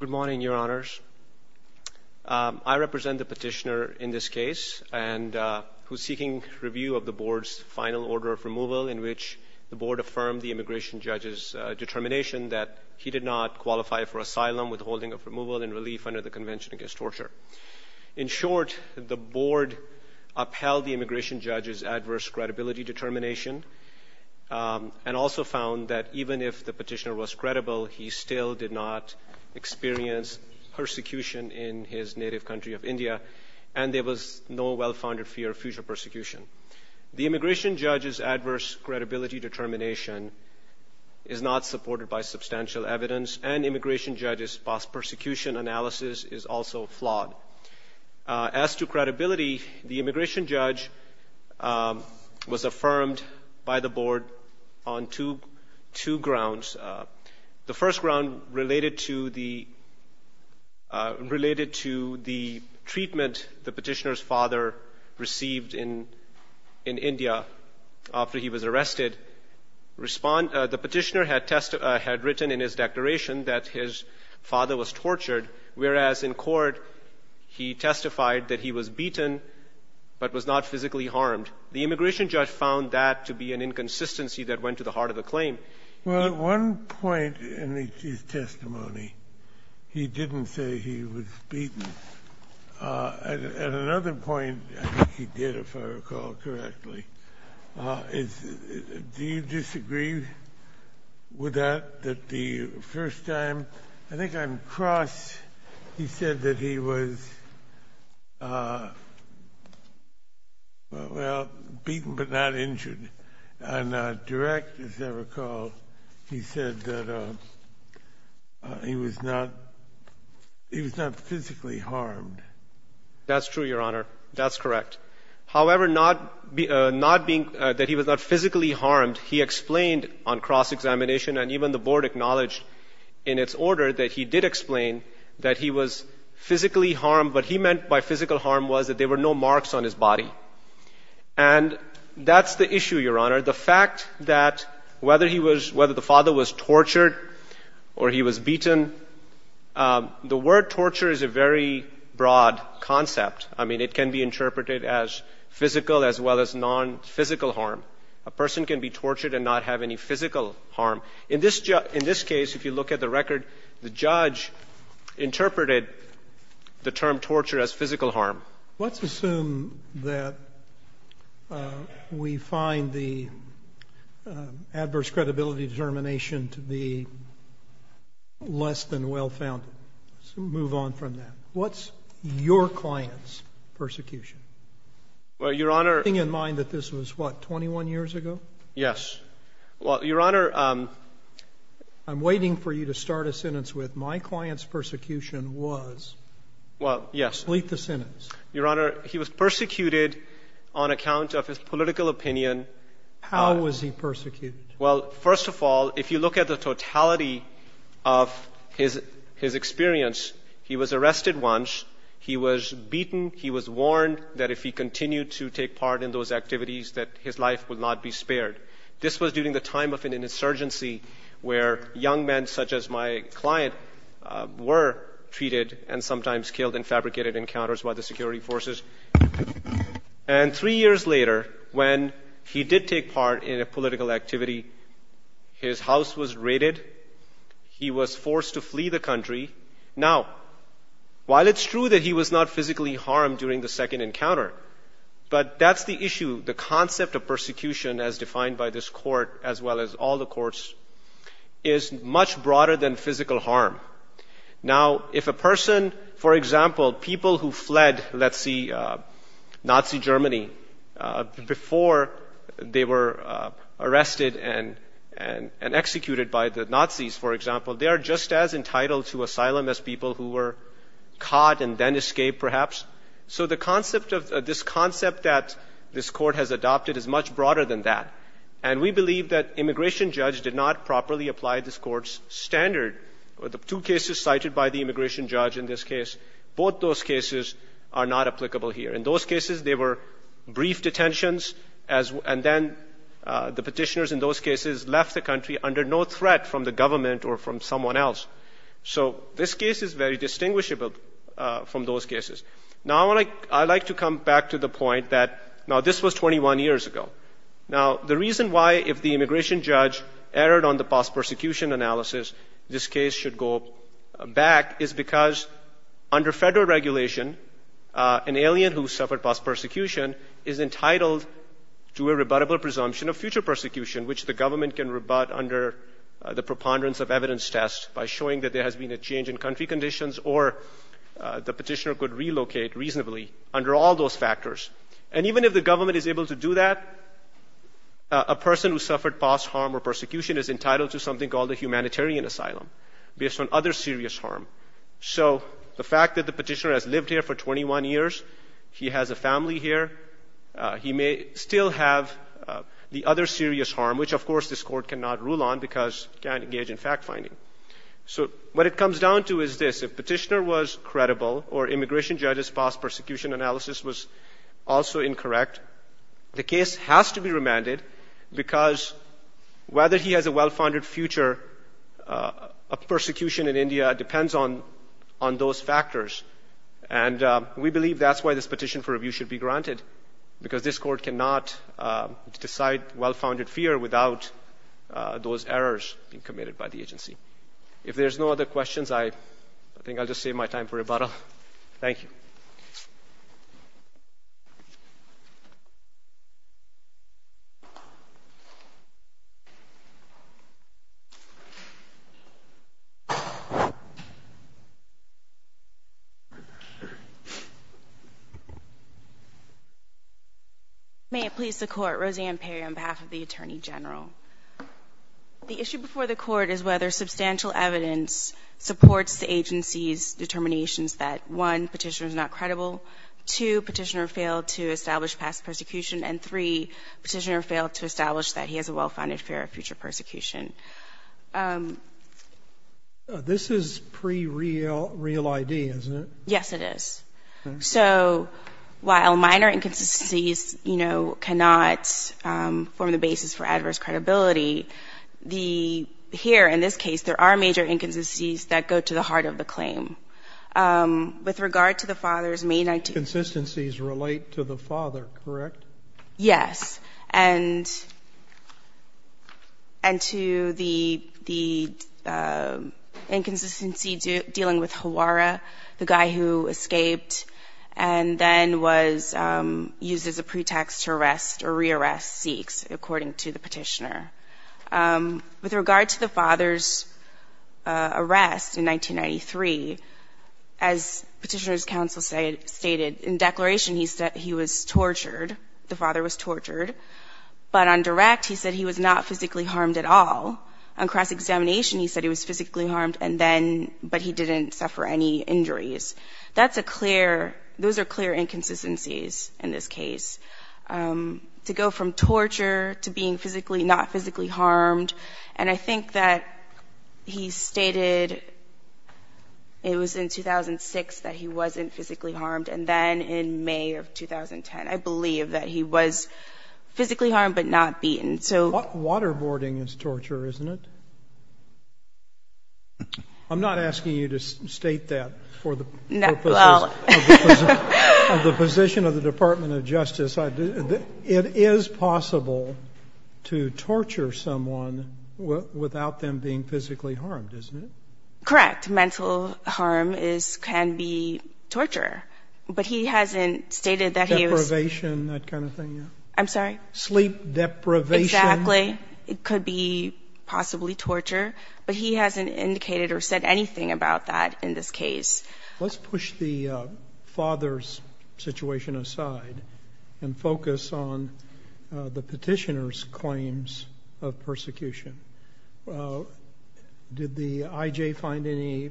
Good morning, your honors. I represent the petitioner in this case and who's seeking review of the board's final order of removal in which the board affirmed the immigration judge's determination that he did not qualify for asylum, withholding of removal, and relief under the Convention Against Torture. In short, the board upheld the immigration judge's adverse credibility determination and also found that even if the petitioner was credible, he still did not experience persecution in his native country of India and there was no well-founded fear of future persecution. The immigration judge's adverse credibility determination is not supported by substantial evidence and immigration judge's post-persecution analysis is also flawed. As to credibility, the immigration judge was affirmed by the board on two grounds. The first ground related to the treatment the petitioner's father received in India after he was arrested. The petitioner had written in his declaration that his father was tortured, whereas in court, he testified that he was beaten but was not physically harmed. The immigration judge found that to be an inconsistency that went to the heart of the claim. Kennedy, at one point in his testimony, he didn't say he was beaten. At another point, I think he did, if I recall correctly, do you disagree with that, that the first time, I think on cross, he said that he was, well, beaten but not injured. And direct, as I recall, he said that he was not physically harmed. That's true, Your Honor. That's correct. However, that he was not physically harmed, he explained on cross-examination and even the board acknowledged in its order that he did explain that he was physically harmed, but he meant by physical harm was that there were no marks on his body. And that's the issue, Your Honor. The fact that whether he was, whether the father was tortured or he was beaten, the word torture is a very broad concept. I mean, it can be interpreted as physical as well as non-physical harm. A person can be tortured and not have any physical harm. In this case, if you look at the record, the judge interpreted the term torture as physical harm. Let's assume that we find the adverse credibility determination to be less than well founded. Let's move on from that. What's your client's persecution? Well, Your Honor — Keeping in mind that this was, what, 21 years ago? Yes. Well, Your Honor — I'm waiting for you to start a sentence with, my client's persecution was. Well, yes. Complete the sentence. Your Honor, he was persecuted on account of his political opinion. How was he persecuted? Well, first of all, if you look at the totality of his experience, he was arrested once. He was beaten. He was warned that if he continued to take part in those activities, that his life would not be spared. This was during the time of an insurgency where young men such as my client were treated and sometimes killed in fabricated encounters by the security forces. And three years later, when he did take part in a political activity, his house was raided. He was forced to flee the country. Now, while it's true that he was not physically harmed during the second encounter, but that's the issue. The concept of persecution, as defined by this court, as well as all the courts, is much broader than physical harm. Now, if a person, for example, people who fled, let's see, Nazi Germany, before they were arrested and executed by the Nazis, for example, they are just as entitled to asylum as people who were caught and then escaped, perhaps. So the concept of this concept that this court has adopted is much broader than that. And we believe that immigration judge did not properly apply this court's standard. The two cases cited by the immigration judge in this case, both those cases are not applicable here. In those cases, they were brief detentions, and then the petitioners in those cases left the country under no threat from the government or from someone else. So this case is very broad in these cases. Now, I'd like to come back to the point that, now, this was 21 years ago. Now, the reason why, if the immigration judge erred on the post-persecution analysis, this case should go back is because, under federal regulation, an alien who suffered post-persecution is entitled to a rebuttable presumption of future persecution, which the government can rebut under the preponderance of evidence test by showing that there has been a change in country conditions, or the petitioner could relocate reasonably under all those factors. And even if the government is able to do that, a person who suffered post-harm or persecution is entitled to something called a humanitarian asylum based on other serious harm. So the fact that the petitioner has lived here for 21 years, he has a family here, he may still have the other serious harm, which, of course, this court cannot rule on because it can't engage in fact-finding. So what it comes down to is this. If petitioner was credible or immigration judge's post-persecution analysis was also incorrect, the case has to be remanded because whether he has a well-founded future of persecution in India depends on those factors. And we believe that's why this petition for review should be granted, because this court cannot decide well-founded fear without those errors being committed by the agency. If there's no other questions, I think I'll just save my time for rebuttal. Thank you. May it please the Court. Roseanne Perry on behalf of the Attorney General. The issue before the Court is whether substantial evidence supports the agency's determinations that, one, petitioner is not credible, two, petitioner failed to establish past persecution, and three, petitioner failed to establish that he has a well-founded fear of future persecution. This is pre-real ID, isn't it? Yes, it is. So while minor inconsistencies, you know, cannot form the basis for adverse credibility, the here, in this case, there are major inconsistencies that go to the father. With regard to the father's May 19th ---- Inconsistencies relate to the father, correct? Yes. And to the inconsistency dealing with Hawara, the guy who escaped and then was used as a pretext to arrest or re-arrest Sikhs, according to the petitioner. With regard to the father's arrest in 1993, as Petitioner's Counsel stated, in declaration he said he was tortured, the father was tortured. But on direct, he said he was not physically harmed at all. On cross-examination, he said he was physically harmed and then ---- but he didn't suffer any injuries. That's a clear ---- those are clear inconsistencies in this case. To go from torture to being physically, not physically harmed, and I think that he stated it was in 2006 that he wasn't physically harmed, and then in May of 2010, I believe that he was physically harmed but not beaten, so ---- Waterboarding is torture, isn't it? I'm not asking you to state that for the purposes of the position of the Department of Justice. It is possible to torture someone without them being physically harmed, isn't it? Correct. Mental harm is ---- can be torture. But he hasn't stated that he was ---- Deprivation, that kind of thing, yeah? I'm sorry? Sleep deprivation. Exactly. It could be possibly torture. But he hasn't indicated or said anything about that in this case. Let's push the father's situation aside and focus on the Petitioner's claims of persecution. Did the I.J. find any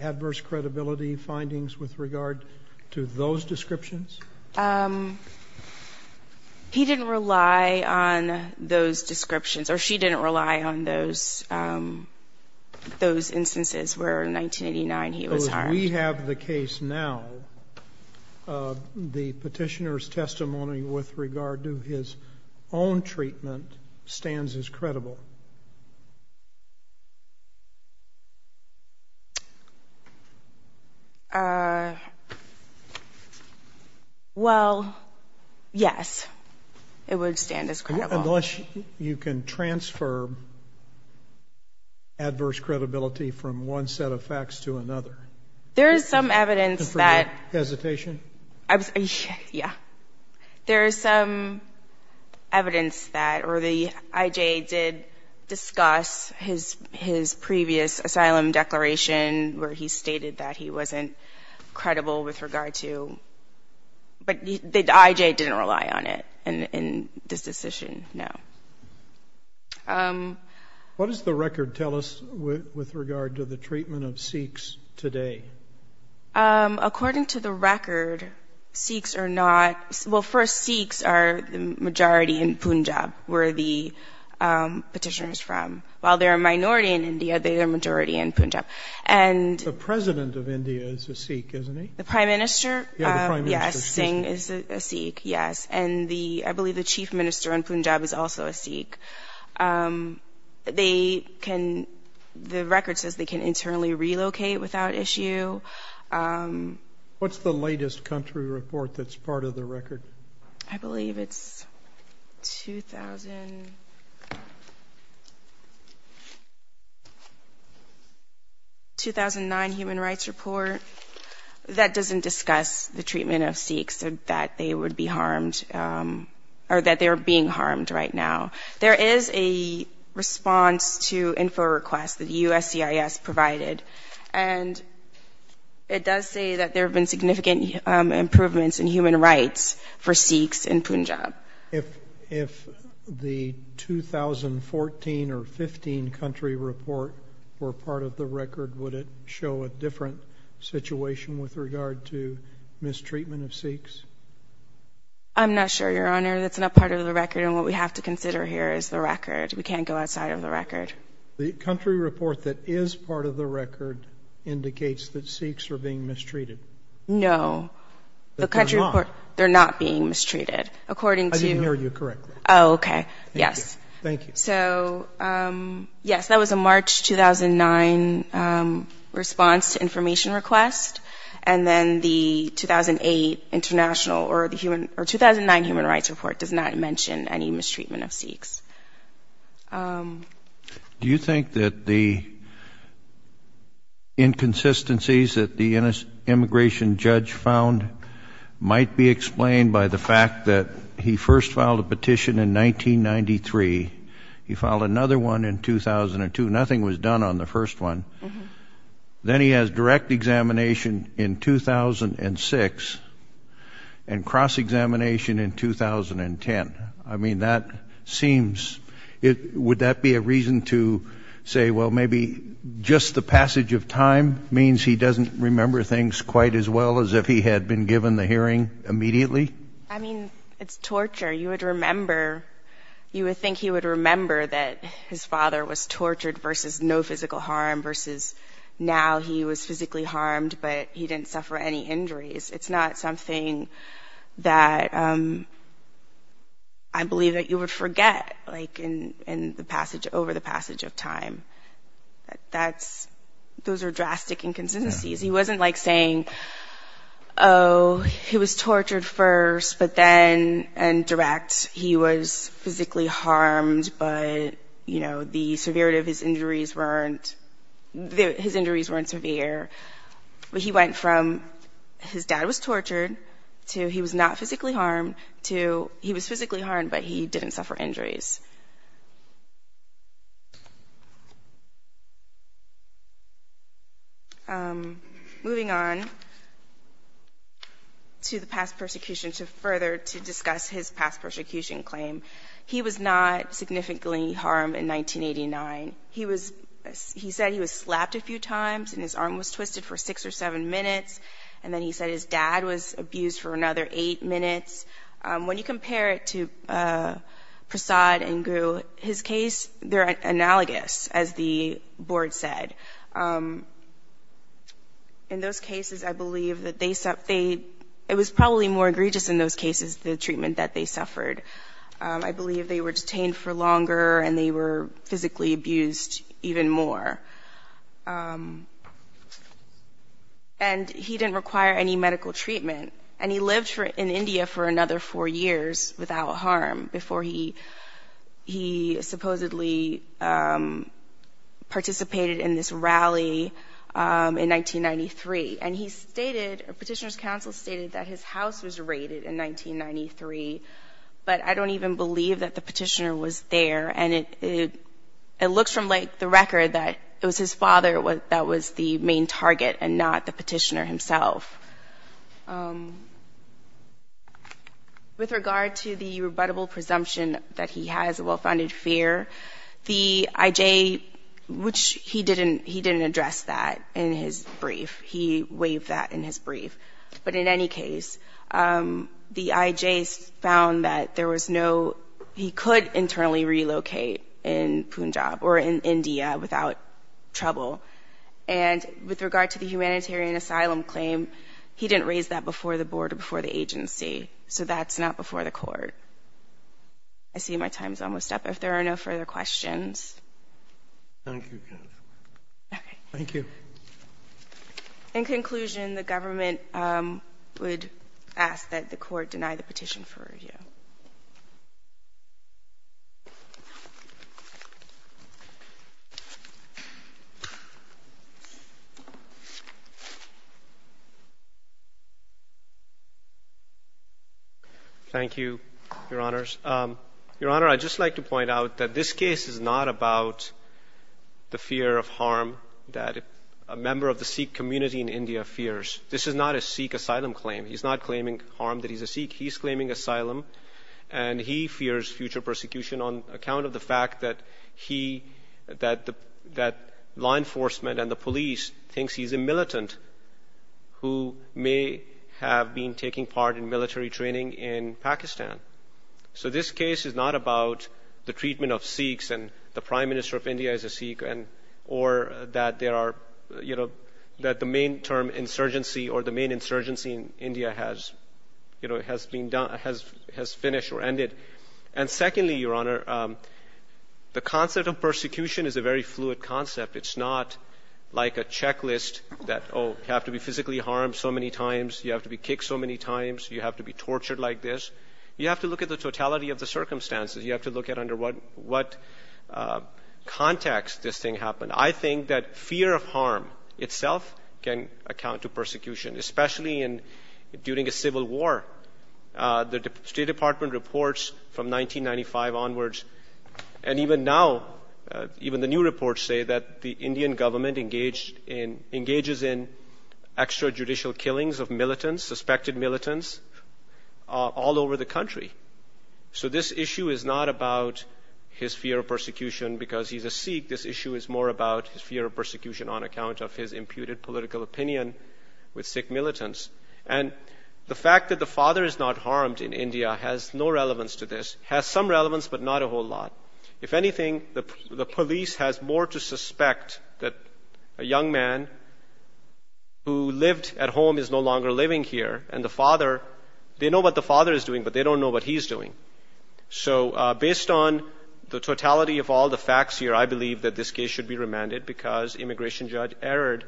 adverse credibility findings with regard to those descriptions? He didn't rely on those descriptions, or she didn't rely on those instances where in 1989 he was harmed. So as we have the case now, the Petitioner's testimony with regard to his own treatment stands as credible? Well, yes. It would stand as credible. Unless you can transfer adverse credibility from one set of facts to another. There's some evidence that ---- Is that hesitation? Yeah. There's some evidence that the I.J. did discuss his previous asylum declaration where he stated that he wasn't credible with regard to ---- but the I.J. didn't rely on it in this decision, no. What does the record tell us with regard to the treatment of Sikhs today? According to the record, Sikhs are not ---- well, first, Sikhs are the majority in Punjab where the Petitioner's from. While they're a minority in India, they're a majority in Punjab. The President of India is a Sikh, isn't he? The Prime Minister? Yeah, the Prime Minister. Yes. Singh is a Sikh, yes. And I believe the Chief Minister in Punjab is also a Sikh. They can ---- the record says they can internally relocate without issue. What's the latest country report that's part of the record? I believe it's 2000 ---- 2009 Human Rights Report. That doesn't discuss the treatment of Sikhs that they would be harmed or that they're being harmed right now. There is a response to info requests that USCIS provided, and it does say that there have been significant improvements in human rights for Sikhs in Punjab. If the 2014 or 15 country report were part of the record, would it show a different situation with regard to mistreatment of Sikhs? I'm not sure, Your Honor. That's not part of the record, and what we have to consider here is the record. We can't go outside of the record. The country report that is part of the record indicates that Sikhs are being mistreated. No. The country report ---- They're not. They're not being mistreated. According to ---- I didn't hear you correctly. Oh, okay. Yes. Thank you. Thank you. So, yes, that was a March 2009 response to information request, and then the 2008 international or 2009 Human Rights Report does not mention any mistreatment of Sikhs. Do you think that the inconsistencies that the immigration judge found might be explained by the fact that he first filed a petition in 1993. He filed another one in 2002. Nothing was done on the first one. Then he has direct examination in 2006 and cross-examination in 2010. I mean, that seems ---- Would that be a reason to say, well, maybe just the passage of time means he doesn't remember things quite as well as if he had been given the hearing immediately? I mean, it's torture. You would remember, you would think he would remember that his father was tortured versus no physical harm versus now he was physically harmed, but he didn't suffer any injuries. It's not something that I believe that you would forget, like in the passage, over the passage of time. That's, those are drastic inconsistencies. He wasn't like saying, oh, he was tortured first, but then, and direct, he was physically harmed, but, you know, the severity of his injuries weren't, his injuries weren't severe. He went from his dad was tortured to he was not physically harmed to he was physically harmed, but he didn't suffer injuries. Moving on to the past persecution, to further, to discuss his past persecution claim, he was not significantly harmed in 1989. He was, he said he was slapped a few times and his arm was twisted for six or seven minutes, and then he said his dad was abused for another eight minutes. When you compare it to Prasad and Gu, his case, they're analogous, as the case, in those cases, I believe that they, it was probably more egregious in those cases, the treatment that they suffered. I believe they were detained for longer and they were physically abused even more. And he didn't require any medical treatment, and he lived for, in India for another four years without harm before he, he supposedly participated in this rally in 1993. And he stated, a petitioner's counsel stated that his house was raided in 1993, but I don't even believe that the petitioner was there. And it, it looks from like the record that it was his father that was the main target and not the petitioner himself. With regard to the rebuttable presumption that he has a well-founded fear, the IJ, which he didn't, he didn't address that in his brief. He waived that in his brief. But in any case, the IJ found that there was no, he could internally relocate in Punjab or in India without trouble. And with regard to the humanitarian asylum claim, he didn't raise that before the board or before the agency. So that's not before the court. I see my time's almost up. If there are no further questions. Thank you. In conclusion, the government would ask that the court deny the petition for review. Thank you, Your Honors. Your Honor, I'd just like to point out that this case is not about the fear of harm that a member of the Sikh community in India fears. This is not a Sikh asylum claim. He's not claiming harm that he's a Sikh. He's claiming asylum and he fears future persecution on account of the fact that he, that the, that law enforcement and the police thinks he's a militant who may have been taking part in the killing of Sikhs and the Prime Minister of India is a Sikh and, or that there are, you know, that the main term insurgency or the main insurgency in India has, you know, has been done, has finished or ended. And secondly, Your Honor, the concept of persecution is a very fluid concept. It's not like a checklist that, oh, you have to be physically harmed so many times, you have to be kicked so many times, you have to be tortured like this. You have to look at the totality of the circumstances. You have to look at under what context this thing happened. I think that fear of harm itself can account to persecution, especially in, during a civil war. The State Department reports from 1995 onwards, and even now, even the new reports say that the Indian government engaged in, engages in extrajudicial killings of militants, suspected militants, all over the country. So this issue is not about his fear of persecution because he's a Sikh. This issue is more about his fear of persecution on account of his imputed political opinion with Sikh militants. And the fact that the father is not harmed in India has no relevance to this, has some relevance, but not a whole lot. If anything, the police has more to suspect that a young man who lived at home is no longer living here, and the father, they know what the father is doing, but they don't know what he's doing. So based on the totality of all the facts here, I believe that this case should be remanded because immigration judge erred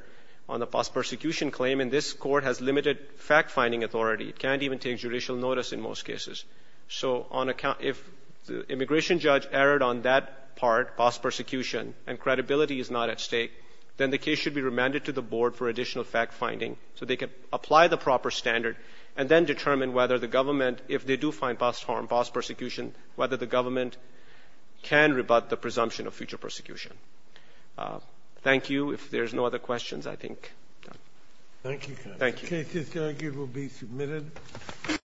on the post-persecution claim, and this court has limited fact-finding authority. It can't even take judicial notice in most cases. So on account, if the immigration judge erred on that part, post-persecution, and credibility is not at stake, then the case should be remanded to the board for additional fact-finding so they can apply the proper standard and then determine whether the government, if they do find past harm, past persecution, whether the government can rebut the presumption of future persecution. Thank you. If there's no other questions, I think we're done.